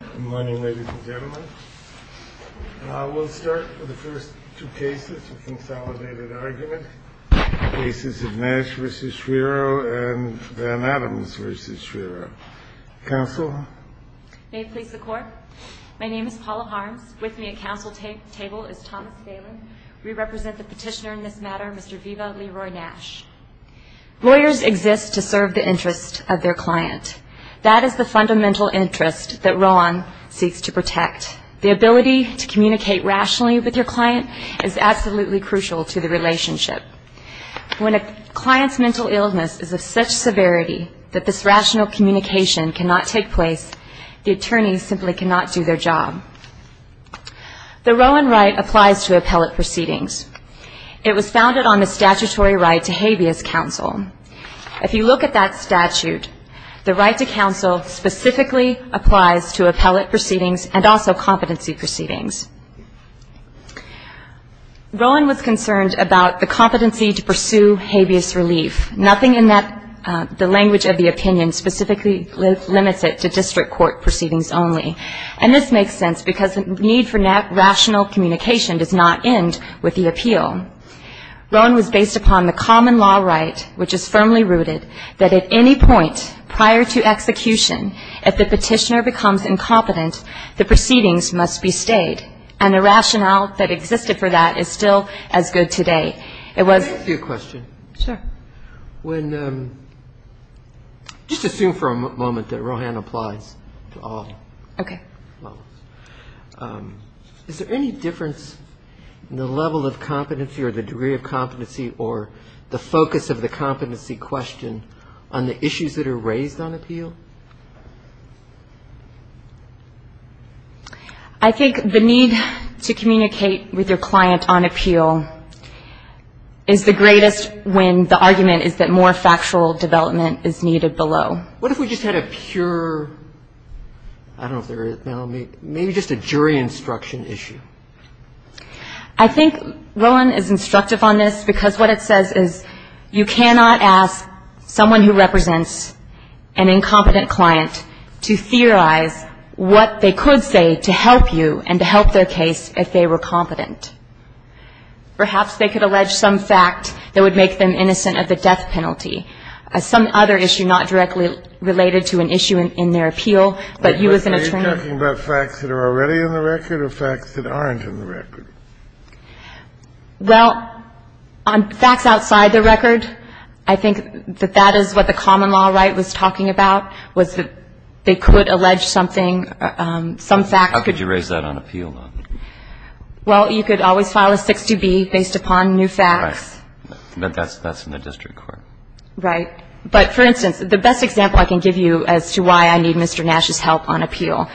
Good morning, ladies and gentlemen. We'll start with the first two cases of consolidated argument. Cases of Nash v. Schriro and Adams v. Schriro. Counsel? May it please the Court. My name is Paula Harms. With me at counsel table is Thomas Galen. We represent the petitioner in this matter, Mr. Viva Leroy Nash. Lawyers exist to serve the interest of their client. That is the fundamental interest that Rowan seeks to protect. The ability to communicate rationally with your client is absolutely crucial to the relationship. When a client's mental illness is of such severity that this rational communication cannot take place, the attorney simply cannot do their job. The Rowan right applies to appellate proceedings. It was founded on the statutory right to habeas counsel. If you look at that statute, the right to counsel specifically applies to appellate proceedings and also competency proceedings. Rowan was concerned about the competency to pursue habeas relief. Nothing in the language of the opinion specifically limits it to district court proceedings only. And this makes sense because the need for rational communication does not end with the appeal. Rowan was based upon the common law right, which is firmly rooted, that at any point prior to execution, if the petitioner becomes incompetent, the proceedings must be stayed. And the rationale that existed for that is still as good today. It was ‑‑ Can I ask you a question? Sure. When ‑‑ just assume for a moment that Rowan applies to all. Okay. Is there any difference in the level of competency or the degree of competency or the focus of the competency question on the issues that are raised on appeal? I think the need to communicate with your client on appeal is the greatest when the argument is that more factual development is needed below. What if we just had a pure ‑‑ I don't know if there is now. Maybe just a jury instruction issue. I think Rowan is instructive on this because what it says is you cannot ask someone who represents an incompetent client to theorize what they could say to help you and to help their case if they were competent. Perhaps they could allege some fact that would make them innocent of the death penalty. Some other issue not directly related to an issue in their appeal, but you as an attorney ‑‑ Are you talking about facts that are already in the record or facts that aren't in the record? Well, on facts outside the record, I think that that is what the common law right was talking about, was that they could allege something, some fact. How could you raise that on appeal? Well, you could always file a 60B based upon new facts. Right. But that's in the district court. Right. But, for instance, the best example I can give you as to why I need Mr. Nash's help on appeal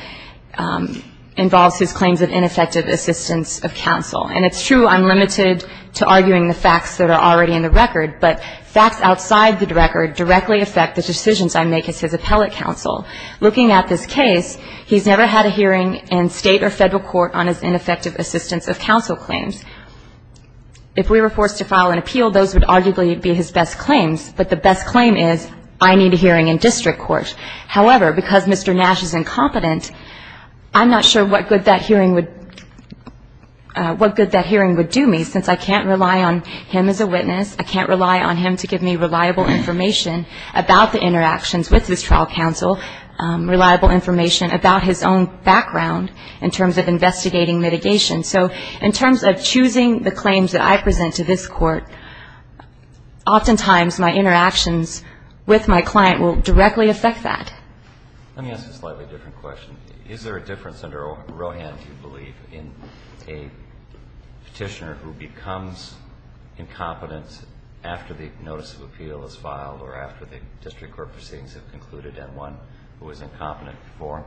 involves his claims of ineffective assistance of counsel. And it's true I'm limited to arguing the facts that are already in the record, but facts outside the record directly affect the decisions I make as his appellate counsel. Looking at this case, he's never had a hearing in State or Federal court on his ineffective assistance of counsel claims. If we were forced to file an appeal, those would arguably be his best claims. But the best claim is, I need a hearing in district court. However, because Mr. Nash is incompetent, I'm not sure what good that hearing would do me, since I can't rely on him as a witness. I can't rely on him to give me reliable information about the interactions with his trial counsel, reliable information about his own background in terms of investigating mitigation. So in terms of choosing the claims that I present to this court, oftentimes my interactions with my client will directly affect that. Let me ask a slightly different question. Is there a difference under Rowan, do you believe, in a petitioner who becomes incompetent after the notice of appeal is filed or after the district court proceedings have concluded and one who was incompetent before?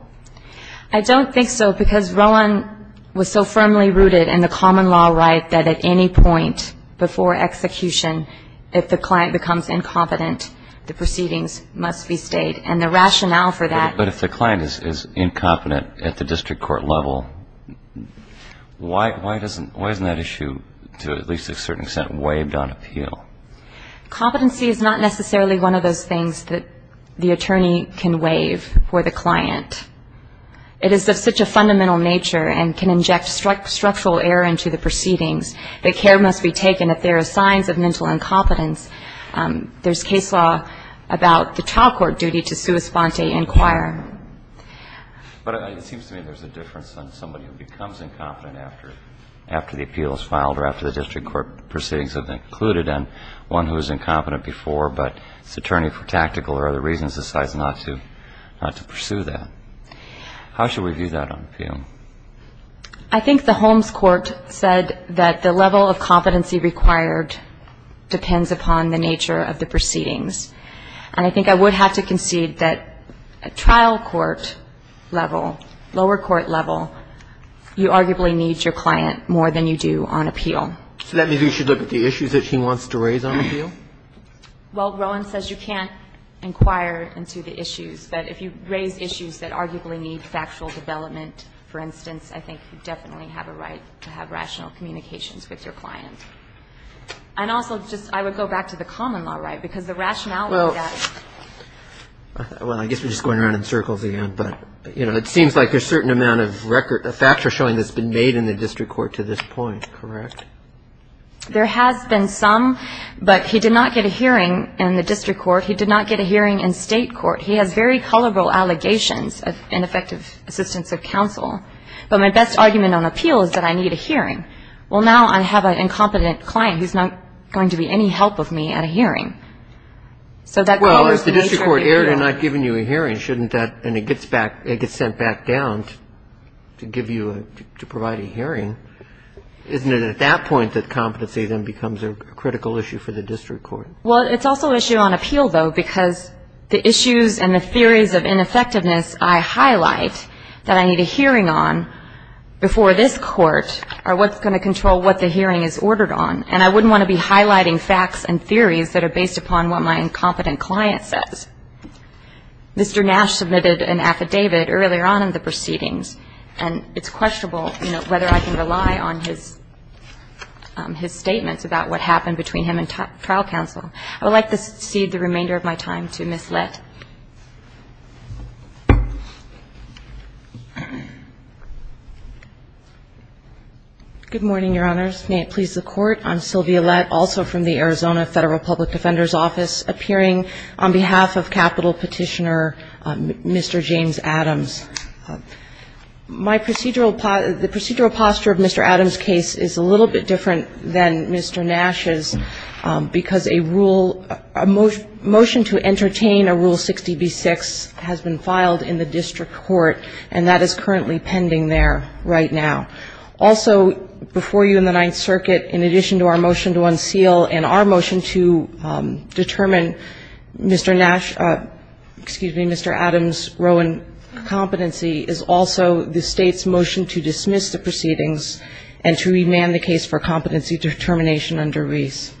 I don't think so, because Rowan was so firmly rooted in the common law right that at any point before execution, if the client becomes incompetent, the proceedings must be stayed. And the rationale for that ---- But if the client is incompetent at the district court level, why isn't that issue, to at least a certain extent, waived on appeal? Competency is not necessarily one of those things that the attorney can waive for the client. It is of such a fundamental nature and can inject structural error into the proceedings. The care must be taken if there are signs of mental incompetence. There's case law about the trial court duty to sua sponte, inquire. But it seems to me there's a difference on somebody who becomes incompetent after the appeal is filed or after the district court proceedings have concluded and one who was incompetent before, but this attorney for tactical or other reasons decides not to pursue that. How should we view that on appeal? I think the Holmes Court said that the level of competency required depends upon the nature of the proceedings. And I think I would have to concede that trial court level, lower court level, you arguably need your client more than you do on appeal. So that means we should look at the issues that she wants to raise on appeal? Well, Rowan says you can't inquire into the issues. But if you raise issues that arguably need factual development, for instance, I think you definitely have a right to have rational communications with your client. And also, just I would go back to the common law right, because the rationality of that ---- Well, I guess we're just going around in circles again. But, you know, it seems like there's a certain amount of record, a factor showing that's been made in the district court to this point, correct? There has been some, but he did not get a hearing in the district court. He did not get a hearing in state court. He has very colorful allegations of ineffective assistance of counsel. But my best argument on appeal is that I need a hearing. Well, now I have an incompetent client who's not going to be any help of me at a hearing. Well, if the district court erred in not giving you a hearing, shouldn't that ---- and it gets sent back down to give you a ---- to provide a hearing, isn't it at that point that competency then becomes a critical issue for the district court? Well, it's also an issue on appeal, though, because the issues and the theories of ineffectiveness I highlight that I need a hearing on before this court are what's going to control what the hearing is ordered on. And I wouldn't want to be highlighting facts and theories that are based upon what my incompetent client says. Mr. Nash submitted an affidavit earlier on in the proceedings, and it's questionable whether I can rely on his statements about what happened between him and trial counsel. I would like to cede the remainder of my time to Ms. Lett. Good morning, Your Honors. May it please the Court. I'm Sylvia Lett, also from the Arizona Federal Public Defender's Office, appearing on behalf of Capitol Petitioner Mr. James Adams. My procedural ---- the procedural posture of Mr. Adams' case is a little bit different than Mr. Nash's, because a rule ---- a motion to entertain a rule-setting has been filed in the district court, and that is currently pending there right now. Also before you in the Ninth Circuit, in addition to our motion to unseal and our motion to determine Mr. Nash ---- excuse me, Mr. Adams' rowan competency is also the State's motion to dismiss the proceedings and to remand the case for competency determination under Reese.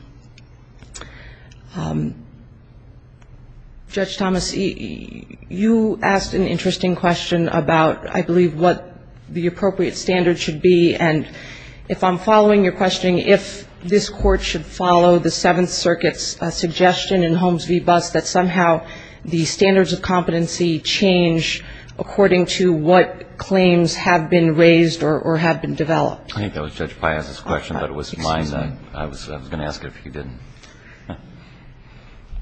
Judge Thomas, you asked an interesting question about, I believe, what the appropriate standard should be. And if I'm following your question, if this Court should follow the Seventh Circuit's suggestion in Holmes v. Buss that somehow the standards of competency change according to what claims have been raised or have been developed. I think that was Judge Piazza's question, but it was mine. I was going to ask about that. I would ask if you didn't.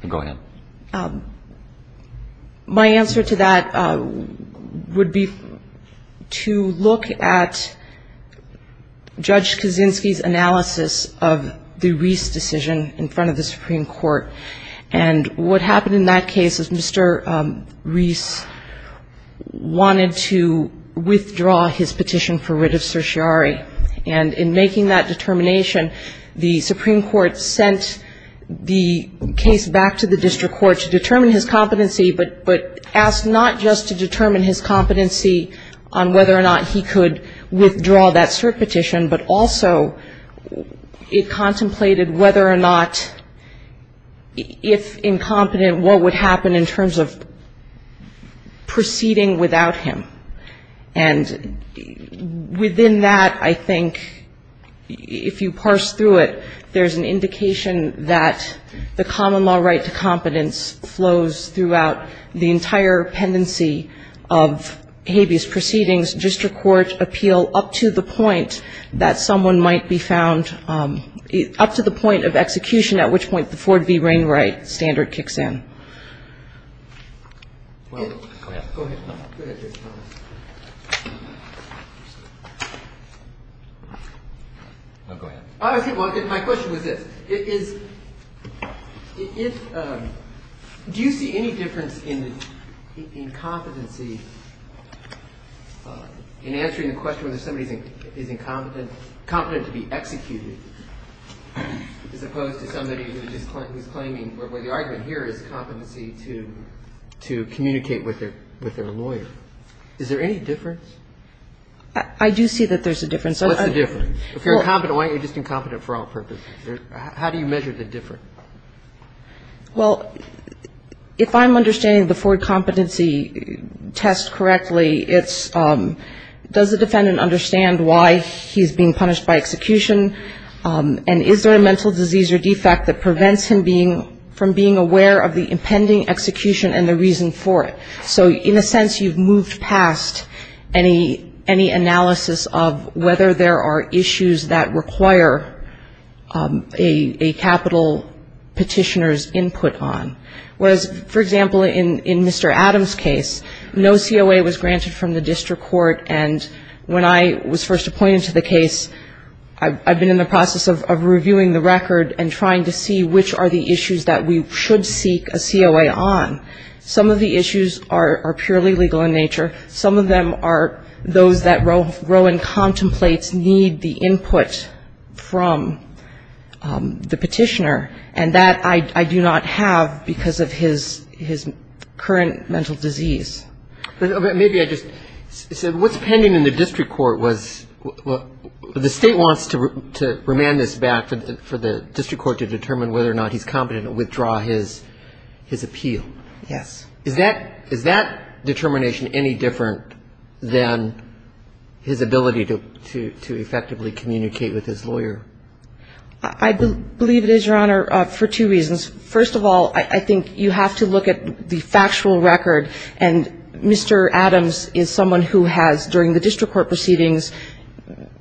Go ahead. My answer to that would be to look at Judge Kaczynski's analysis of the Reese decision in front of the Supreme Court. And what happened in that case is Mr. Reese wanted to withdraw his petition for writ of certiorari. And in making that determination, the Supreme Court sent the case back to the district court to determine his competency, but asked not just to determine his competency on whether or not he could withdraw that cert petition, but also it contemplated whether or not, if incompetent, what would happen in terms of proceeding without him. And within that, I think, if you parse through it, there's an indication that the common law right to competence flows throughout the entire pendency of habeas proceedings. District court appeal up to the point that someone might be found up to the point of execution, at which point the Ford v. Wainwright standard kicks in. Well, go ahead. Go ahead. Go ahead, Judge Thomas. Go ahead. My question was this. Do you see any difference in competency in answering the question whether somebody is incompetent, competent to be executed, as opposed to somebody who is claiming, well, the argument here is competency to communicate with their lawyer. Is there any difference? I do see that there's a difference. What's the difference? If you're incompetent, why aren't you just incompetent for all purposes? How do you measure the difference? Well, if I'm understanding the Ford competency test correctly, it's does the defendant understand why he's being punished by execution, and is there a mental disease or defect that prevents him from being aware of the impending execution and the reason for it? So in a sense, you've moved past any analysis of whether there are issues that require a capital petitioner's input on. Whereas, for example, in Mr. Adams' case, no COA was granted from the district court, and when I was first appointed to the case, I've been in the process of reviewing the record and trying to see which are the issues that we should seek a COA on. Some of the issues are purely legal in nature. Some of them are those that Rowan contemplates need the input from the petitioner, and that I do not have because of his current mental disease. But maybe I just said what's pending in the district court was the State wants to remand this back for the district court to determine whether or not he's competent to withdraw his appeal. Yes. Is that determination any different than his ability to effectively communicate with his lawyer? I believe it is, Your Honor, for two reasons. First of all, I think you have to look at the factual record, and Mr. Adams is someone who has, during the district court proceedings,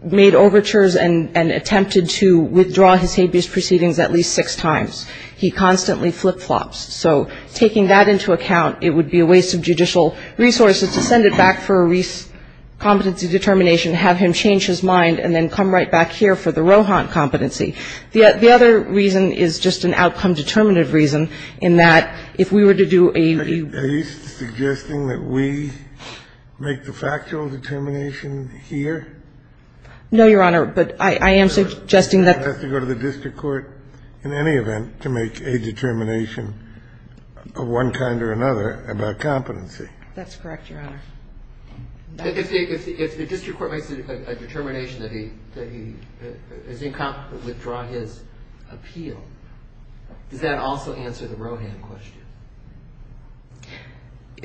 made overtures and attempted to withdraw his habeas proceedings at least six times. He constantly flip-flops. So taking that into account, it would be a waste of judicial resources to send it back for a competency determination, have him change his mind, and then come right back here for the Rohan competency. The other reason is just an outcome-determinative reason, in that, if we were to do a ---- Are you suggesting that we make the factual determination here? No, Your Honor. But I am suggesting that ---- He has to go to the district court in any event to make a determination of one kind or another about competency. That's correct, Your Honor. If the district court makes a determination that he is incompetent, withdraw his appeal, does that also answer the Rohan question?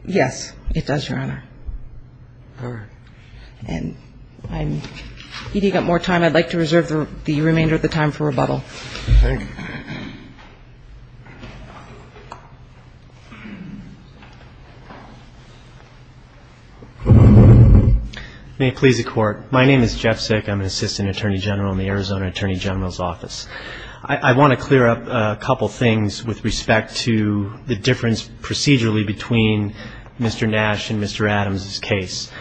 Yes, it does, Your Honor. All right. And I'm eating up more time. I'd like to reserve the remainder of the time for rebuttal. Thank you. May it please the Court. My name is Jeff Sick. I'm an Assistant Attorney General in the Arizona Attorney General's Office. I want to clear up a couple things with respect to the difference procedurally between Mr. Nash and Mr. Adams' case.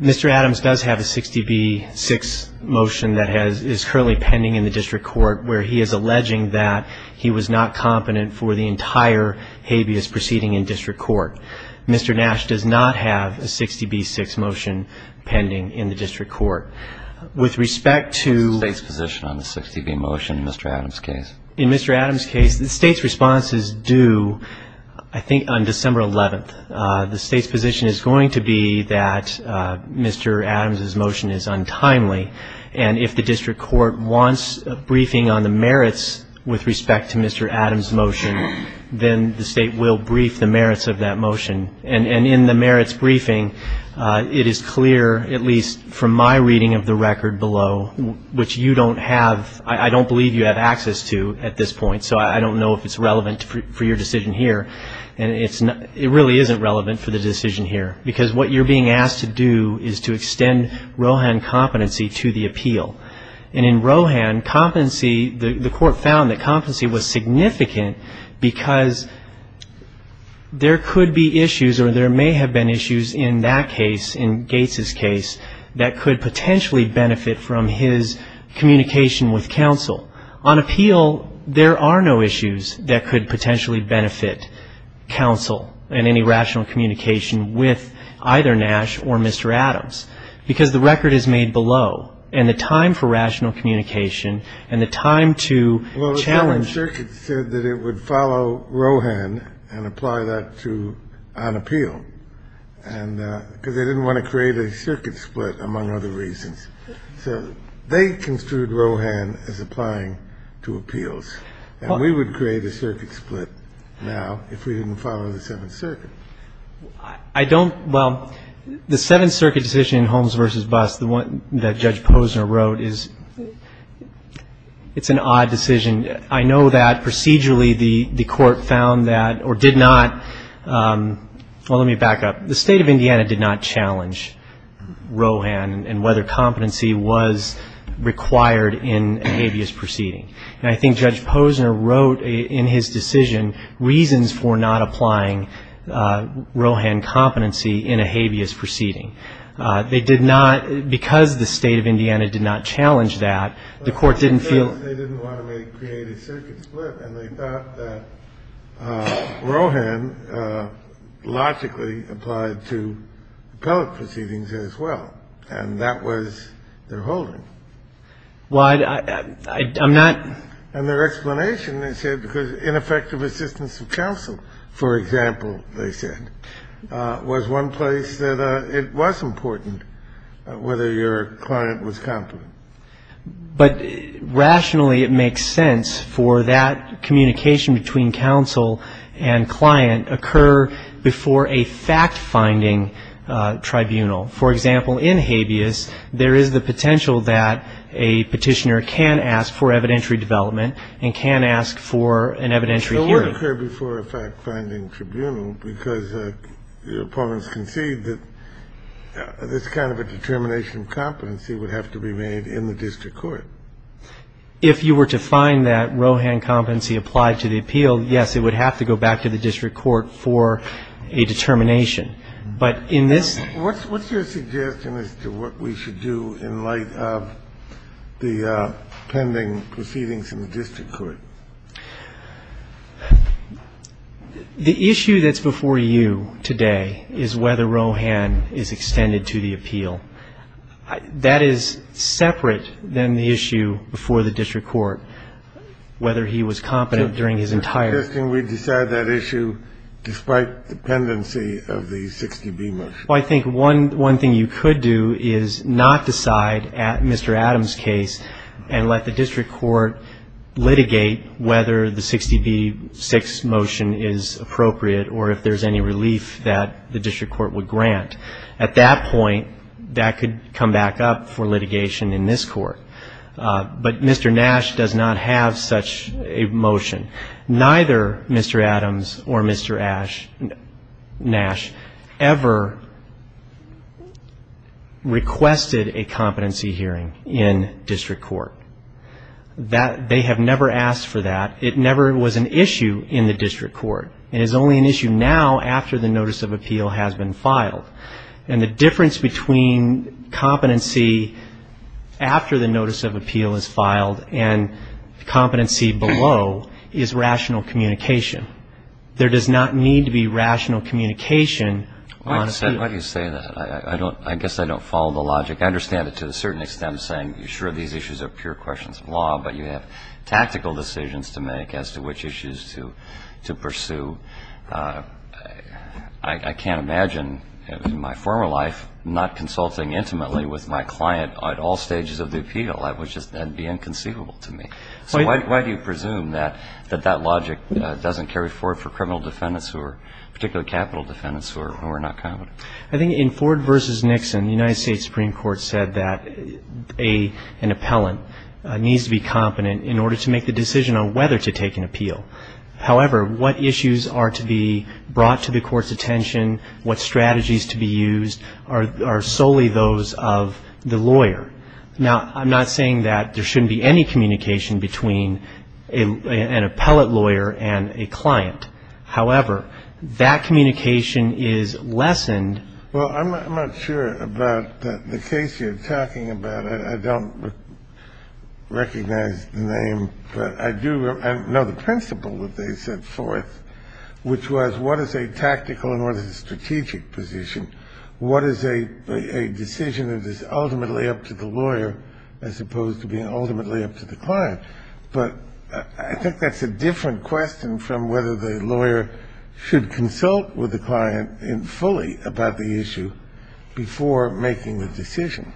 Mr. Adams does have a 60B-6 motion that is currently pending in the district court, where he is alleging that he was not competent for the entire habeas proceeding in district court. Mr. Nash does not have a 60B-6 motion pending in the district court. With respect to ---- State's position on the 60B motion in Mr. Adams' case. In Mr. Adams' case, the State's response is due, I think, on December 11th. The State's position is going to be that Mr. Adams' motion is untimely, and if the district court wants a briefing on the merits with respect to Mr. Adams' motion, then the State will brief the merits of that motion. And in the merits briefing, it is clear, at least from my reading of the record below, which you don't have ---- I don't believe you have access to at this point, so I don't know if it's relevant for your decision here. And it really isn't relevant for the decision here, because what you're being asked to do is to extend Rohan competency to the appeal. And in Rohan, competency, the court found that competency was significant because there could be issues or there may have been issues in that case, in Gates' case, that could potentially benefit from his communication with counsel. On appeal, there are no issues that could potentially benefit counsel and any rational communication with either Nash or Mr. Adams, because the record is made below and the time for rational communication and the time to challenge ---- Well, the Supreme Circuit said that it would follow Rohan and apply that to on appeal, because they didn't want to create a circuit split, among other reasons. So they construed Rohan as applying to appeals. And we would create a circuit split now if we didn't follow the Seventh Circuit. I don't ---- Well, the Seventh Circuit decision in Holmes v. Buss, the one that Judge Posner wrote, is ---- it's an odd decision. I know that procedurally the court found that or did not ---- well, let me back up. The State of Indiana did not challenge Rohan and whether competency was required in a habeas proceeding. And I think Judge Posner wrote in his decision reasons for not applying Rohan competency in a habeas proceeding. They did not ---- because the State of Indiana did not challenge that, the court didn't feel ---- Well, I'm not ---- And their explanation, they said, because ineffective assistance of counsel, for example, they said, was one place that it was important whether your client was competent. But rationally, it makes sense for that communication between counsel and client occur before a fact-finding tribunal. For example, in habeas, there is the potential that a petitioner can ask for evidentiary development and can ask for an evidentiary hearing. It would occur before a fact-finding tribunal because opponents concede that this kind of a determination of competency would have to be made in the district court. If you were to find that Rohan competency applied to the appeal, yes, it would have to go back to the district court for a determination. But in this ---- What's your suggestion as to what we should do in light of the pending proceedings in the district court? The issue that's before you today is whether Rohan is extended to the appeal. That is separate than the issue before the district court, whether he was competent during his entire ---- So you're suggesting we decide that issue despite dependency of the 60B motion? Well, I think one thing you could do is not decide at Mr. Adams' case and let the district court litigate whether the 60B6 motion is appropriate or if there's any relief that the district court would grant. At that point, that could come back up for litigation in this court. But Mr. Nash does not have such a motion. Neither Mr. Adams or Mr. Nash ever requested a competency hearing in district court. They have never asked for that. It never was an issue in the district court. It is only an issue now after the notice of appeal has been filed. And the difference between competency after the notice of appeal is filed and competency below is rational communication. There does not need to be rational communication on appeal. I understand why you say that. I guess I don't follow the logic. I understand it to a certain extent saying you're sure these issues are pure questions of law, but you have tactical decisions to make as to which issues to pursue. I can't imagine in my former life not consulting intimately with my client at all stages of the appeal. That would be inconceivable to me. So why do you presume that that logic doesn't carry forward for criminal defendants, particularly capital defendants who are not competent? I think in Ford v. Nixon, the United States Supreme Court said that an appellant needs to be competent in order to make the decision on whether to take an appeal. However, what issues are to be brought to the court's attention, what strategies to be used are solely those of the lawyer. Now, I'm not saying that there shouldn't be any communication between an appellate lawyer and a client. However, that communication is lessened. Well, I'm not sure about the case you're talking about. I don't recognize the name, but I do know the principle that they set forth, which was what is a tactical and what is a strategic position? What is a decision that is ultimately up to the lawyer as opposed to being ultimately up to the client? But I think that's a different question from whether the lawyer should consult with the client fully about the issue before making the decision.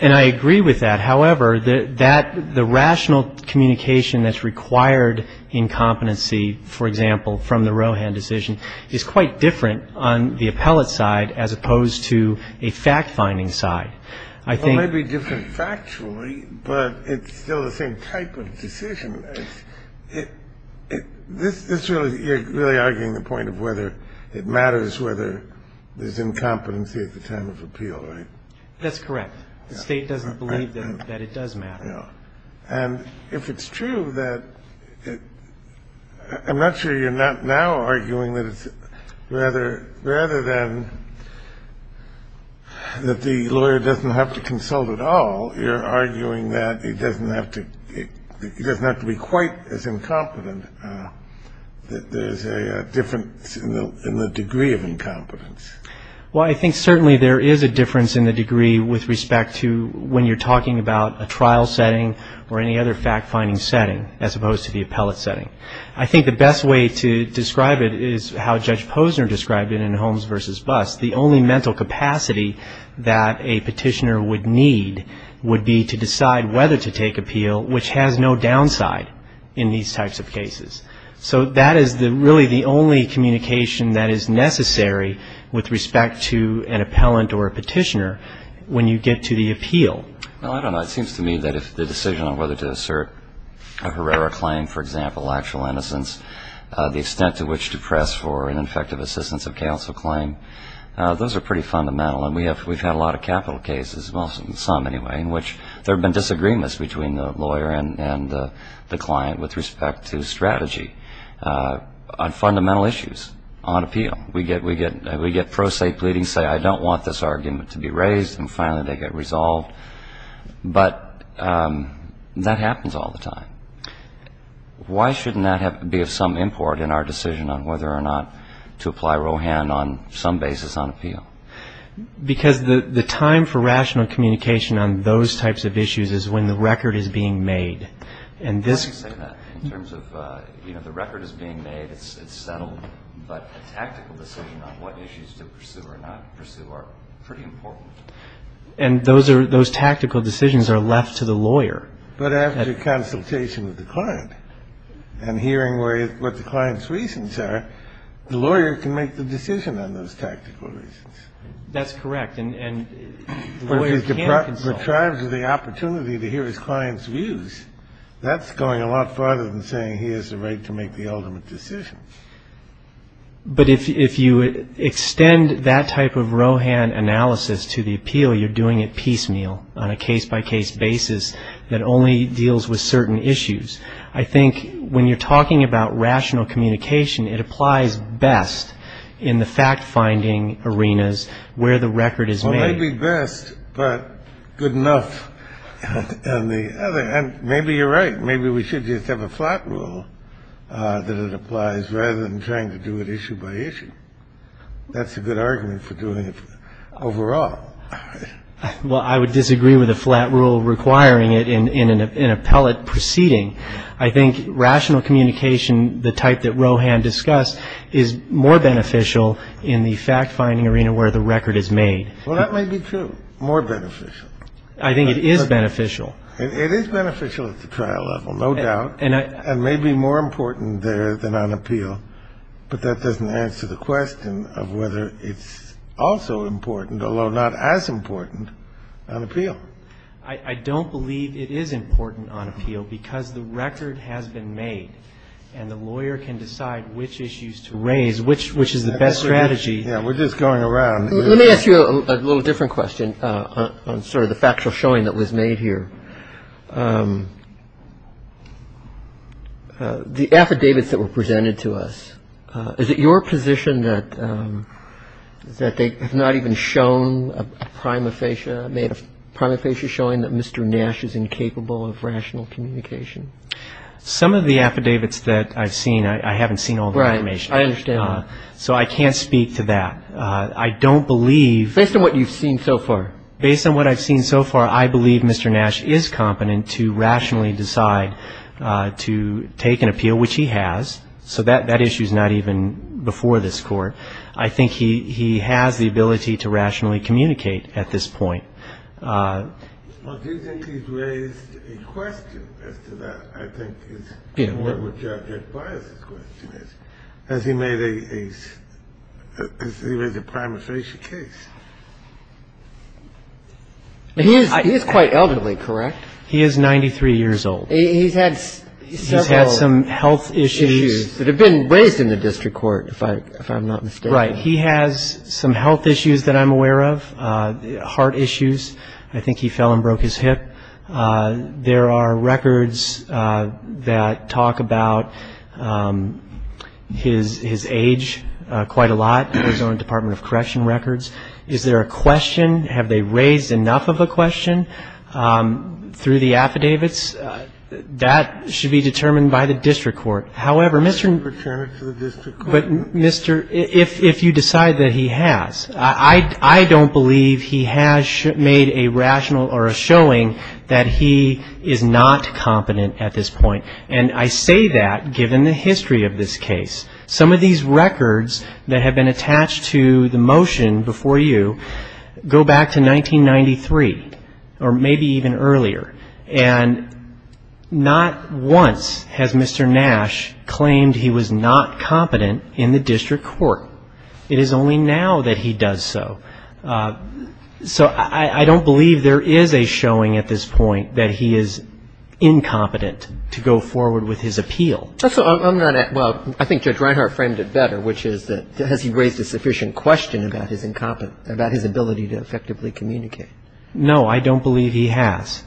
And I agree with that. However, the rational communication that's required in competency, for example, from the Rohan decision, is quite different on the appellate side as opposed to a fact-finding side. It may be different factually, but it's still the same type of decision. You're really arguing the point of whether it matters whether there's incompetency at the time of appeal, right? That's correct. The State doesn't believe that it does matter. And if it's true, I'm not sure you're now arguing that rather than that the lawyer doesn't have to consult at all, you're arguing that he doesn't have to be quite as incompetent. There's a difference in the degree of incompetence. Well, I think certainly there is a difference in the degree with respect to when you're talking about a trial setting or any other fact-finding setting as opposed to the appellate setting. I think the best way to describe it is how Judge Posner described it in Holmes v. Buss. The only mental capacity that a petitioner would need would be to decide whether to take appeal, So that is really the only communication that is necessary with respect to an appellant or a petitioner when you get to the appeal. Well, I don't know. It seems to me that if the decision on whether to assert a Herrera claim, for example, actual innocence, the extent to which to press for an effective assistance of counsel claim, those are pretty fundamental. And we've had a lot of capital cases, well, some anyway, in which there have been disagreements between the lawyer and the client with respect to strategy on fundamental issues on appeal. We get pro se pleadings saying, I don't want this argument to be raised, and finally they get resolved. But that happens all the time. Why shouldn't that be of some import in our decision on whether or not to apply Rohan on some basis on appeal? Because the time for rational communication on those types of issues is when the record is being made. And this is in terms of the record is being made. It's settled. But a tactical decision on what issues to pursue or not pursue are pretty important. And those are those tactical decisions are left to the lawyer. But after consultation with the client and hearing what the client's reasons are, the lawyer can make the decision on those tactical reasons. That's correct. And the lawyer can't consult. But if he's deprived of the opportunity to hear his client's views, that's going a lot farther than saying he has a right to make the ultimate decision. But if you extend that type of Rohan analysis to the appeal, you're doing it piecemeal on a case-by-case basis that only deals with certain issues. I think when you're talking about rational communication, it applies best in the fact-finding arenas where the record is made. Well, maybe best, but good enough on the other. And maybe you're right. Maybe we should just have a flat rule that it applies rather than trying to do it issue by issue. That's a good argument for doing it overall. Well, I would disagree with a flat rule requiring it in an appellate proceeding. I think rational communication, the type that Rohan discussed, is more beneficial in the fact-finding arena where the record is made. Well, that may be true, more beneficial. I think it is beneficial. It is beneficial at the trial level, no doubt, and may be more important there than on appeal. But that doesn't answer the question of whether it's also important, although not as important, on appeal. I don't believe it is important on appeal because the record has been made, and the lawyer can decide which issues to raise, which is the best strategy. Yeah, we're just going around. Let me ask you a little different question on sort of the factual showing that was made here. The affidavits that were presented to us, is it your position that they have not even shown a prima facie, made a prima facie showing that Mr. Nash is incapable of rational communication? Some of the affidavits that I've seen, I haven't seen all the information. Right, I understand that. So I can't speak to that. I don't believe. Based on what you've seen so far. Based on what I've seen so far, I believe Mr. Nash is incapable of rational communication. He is competent to rationally decide to take an appeal, which he has. So that issue is not even before this Court. I think he has the ability to rationally communicate at this point. Well, do you think he's raised a question as to that? I think his, in what would you advise his question is. Has he made a, has he raised a prima facie case? He is quite elderly, correct? He is 93 years old. He's had several health issues that have been raised in the district court, if I'm not mistaken. Right. He has some health issues that I'm aware of, heart issues. I think he fell and broke his hip. There are records that talk about his age quite a lot, the Arizona Department of Correction records. Is there a question? Have they raised enough of a question through the affidavits? That should be determined by the district court. However, Mr. Return it to the district court. But, Mr., if you decide that he has. I don't believe he has made a rational or a showing that he is not competent at this point. And I say that given the history of this case. Some of these records that have been attached to the motion before you go back to 1993 or maybe even earlier. And not once has Mr. Nash claimed he was not competent in the district court. It is only now that he does so. So I don't believe there is a showing at this point that he is incompetent to go forward with his appeal. Well, I think Judge Reinhart framed it better, which is that has he raised a sufficient question about his incompetence, about his ability to effectively communicate? No, I don't believe he has.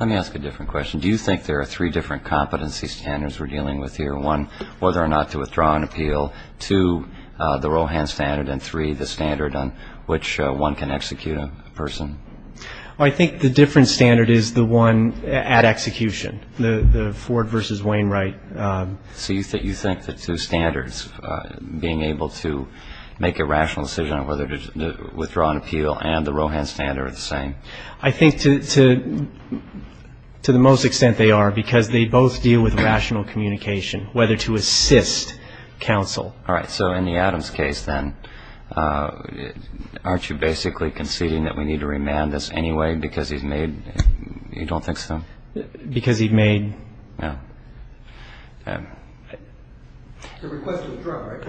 Let me ask a different question. Do you think there are three different competency standards we're dealing with here? One, whether or not to withdraw an appeal. Two, the Rohan standard. And three, the standard on which one can execute a person. I think the different standard is the one at execution. The Ford versus Wainwright. So you think the two standards, being able to make a rational decision on whether to withdraw an appeal and the Rohan standard are the same? I think to the most extent they are because they both deal with rational communication, whether to assist counsel. All right. So in the Adams case, then, aren't you basically conceding that we need to remand this anyway because he's made you don't think so? Because he made. No. A request to withdraw, right?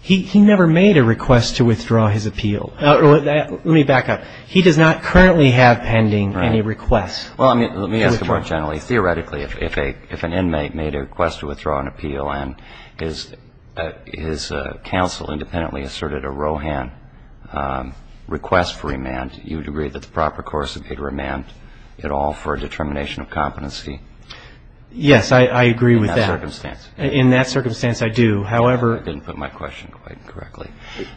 He never made a request to withdraw his appeal. Let me back up. He does not currently have pending any requests. Well, let me ask more generally. Theoretically, if an inmate made a request to withdraw an appeal and his counsel independently asserted a Rohan request for remand, you would agree that the proper course would be to remand it all for a determination of competency? Yes, I agree with that. In that circumstance. In that circumstance, I do. However. I didn't put my question quite correctly.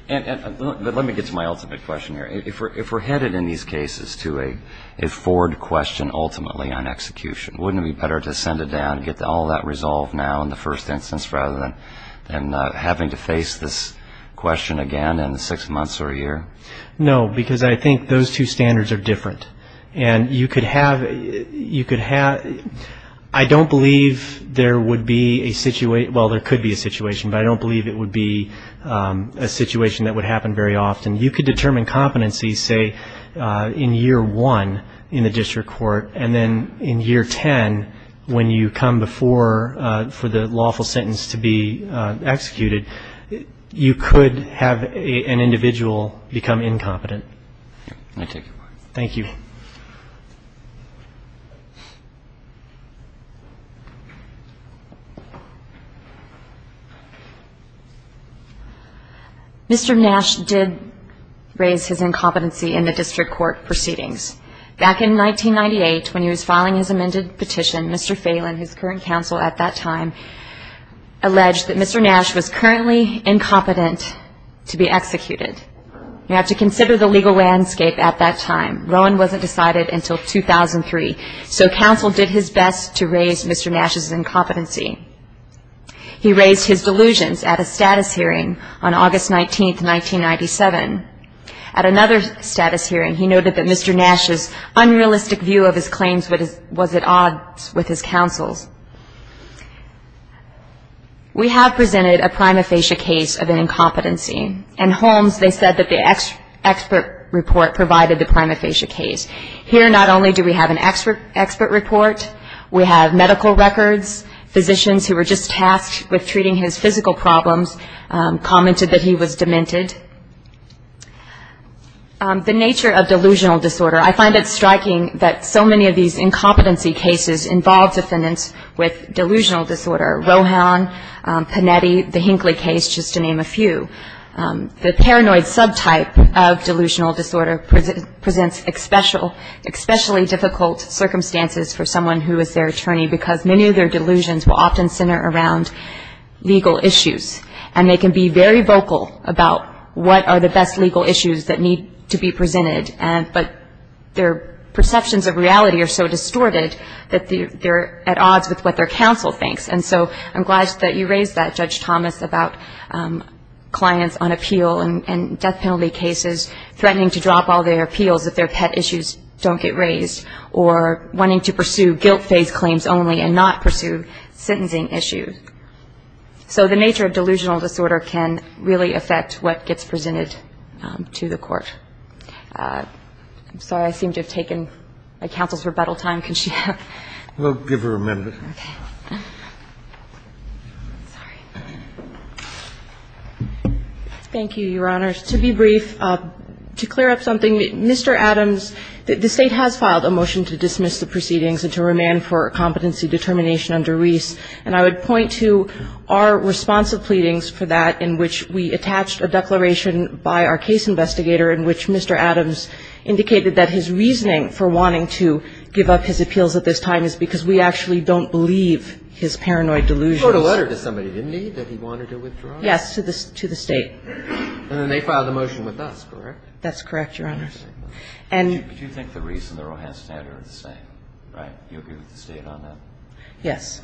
But let me get to my ultimate question here. If we're headed in these cases to a Ford question ultimately on execution, wouldn't it be better to send it down and get all that resolved now in the first instance rather than having to face this question again in six months or a year? No, because I think those two standards are different. And you could have you could have I don't believe there would be a situation, well, there could be a situation, but I don't believe it would be a situation that would happen very often. You could determine competency, say, in year one in the district court, and then in year ten when you come before for the lawful sentence to be executed, you could have an individual become incompetent. Thank you. Mr. Nash did raise his incompetency in the district court proceedings. Back in 1998 when he was filing his amended petition, Mr. Phelan, his current counsel at that time, alleged that Mr. Nash was currently incompetent to be executed. You have to consider the legal landscape at that time. Rowan wasn't decided until 2003. So counsel did his best to raise Mr. Nash's incompetency. He raised his delusions at a status hearing on August 19, 1997. At another status hearing, he noted that Mr. Nash's unrealistic view of his claims was at odds with his counsel's. We have presented a prima facie case of an incompetency. And Holmes, they said that the expert report provided the prima facie case. Here not only do we have an expert report, we have medical records, physicians who were just tasked with treating his physical problems commented that he was demented. The nature of delusional disorder, I find it striking that so many of these incompetency cases involve defendants with delusional disorder, Rohan, Panetti, the Hinckley case, just to name a few. The paranoid subtype of delusional disorder presents especially difficult circumstances for someone who is their attorney because many of their delusions will often center around legal issues. And they can be very vocal about what are the best legal issues that need to be presented, but their perceptions of reality are so distorted that they're at odds with what their counsel thinks. And so I'm glad that you raised that, Judge Thomas, about clients on appeal and death penalty cases threatening to drop all their appeals if their pet issues don't get raised or wanting to pursue guilt phase claims only and not pursue sentencing issues. So the nature of delusional disorder can really affect what gets presented to the court. I'm sorry, I seem to have taken my counsel's rebuttal time. Can she have? We'll give her a minute. Okay. Thank you, Your Honors. To be brief, to clear up something, Mr. Adams, the State has filed a motion to dismiss the proceedings and to remand for competency determination under Reese. And I would point to our responsive pleadings for that in which we attached a declaration by our case investigator in which Mr. Adams indicated that his reasoning for wanting to give up his appeals at this time is because we actually don't believe his paranoid delusions. He wrote a letter to somebody, didn't he, that he wanted to withdraw? Yes, to the State. And then they filed a motion with us, correct? That's correct, Your Honors. Interesting. And do you think the Reese and the Rohan standard are the same, right? Do you agree with the State on that? Yes,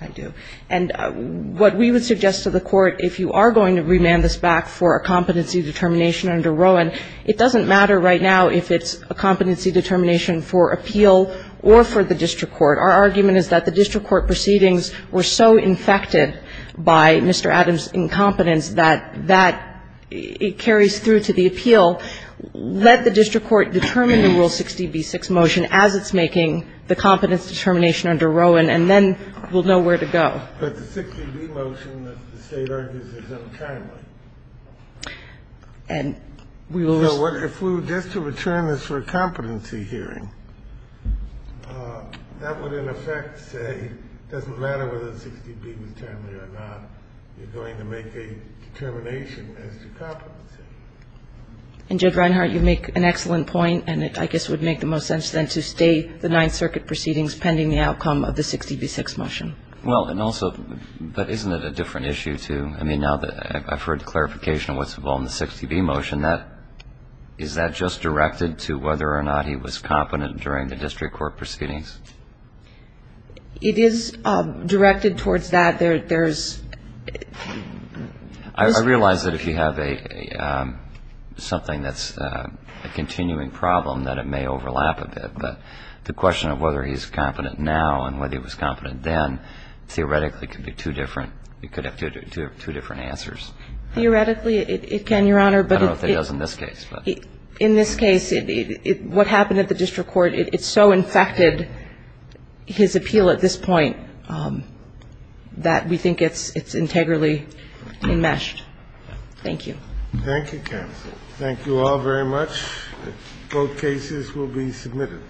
I do. And what we would suggest to the Court, if you are going to remand this back for a competency determination under Rohan, it doesn't matter right now if it's a competency determination for appeal or for the district court. Our argument is that the district court proceedings were so infected by Mr. Adams' incompetence that that carries through to the appeal. Let the district court determine the Rule 60b-6 motion as it's making the competence determination under Rohan, and then we'll know where to go. But the 60b motion that the State argues is untimely. And we will listen. So if we were just to return this for a competency hearing, that would, in effect, say it doesn't matter whether 60b was timely or not. You're going to make a determination as to competency. And, Judge Reinhart, you make an excellent point. And it, I guess, would make the most sense, then, to state the Ninth Circuit proceedings pending the outcome of the 60b-6 motion. Well, and also, but isn't it a different issue, too? I mean, now that I've heard the clarification of what's involved in the 60b motion, is that just directed to whether or not he was competent during the district court proceedings? It is directed towards that. I realize that if you have something that's a continuing problem, that it may overlap a bit. But the question of whether he's competent now and whether he was competent then, theoretically, could be two different. It could have two different answers. Theoretically, it can, Your Honor. I don't know if it does in this case. In this case, what happened at the district court, it so infected his appeal at this point that we think it's integrally enmeshed. Thank you. Thank you, counsel. Thank you all very much. Both cases will be submitted.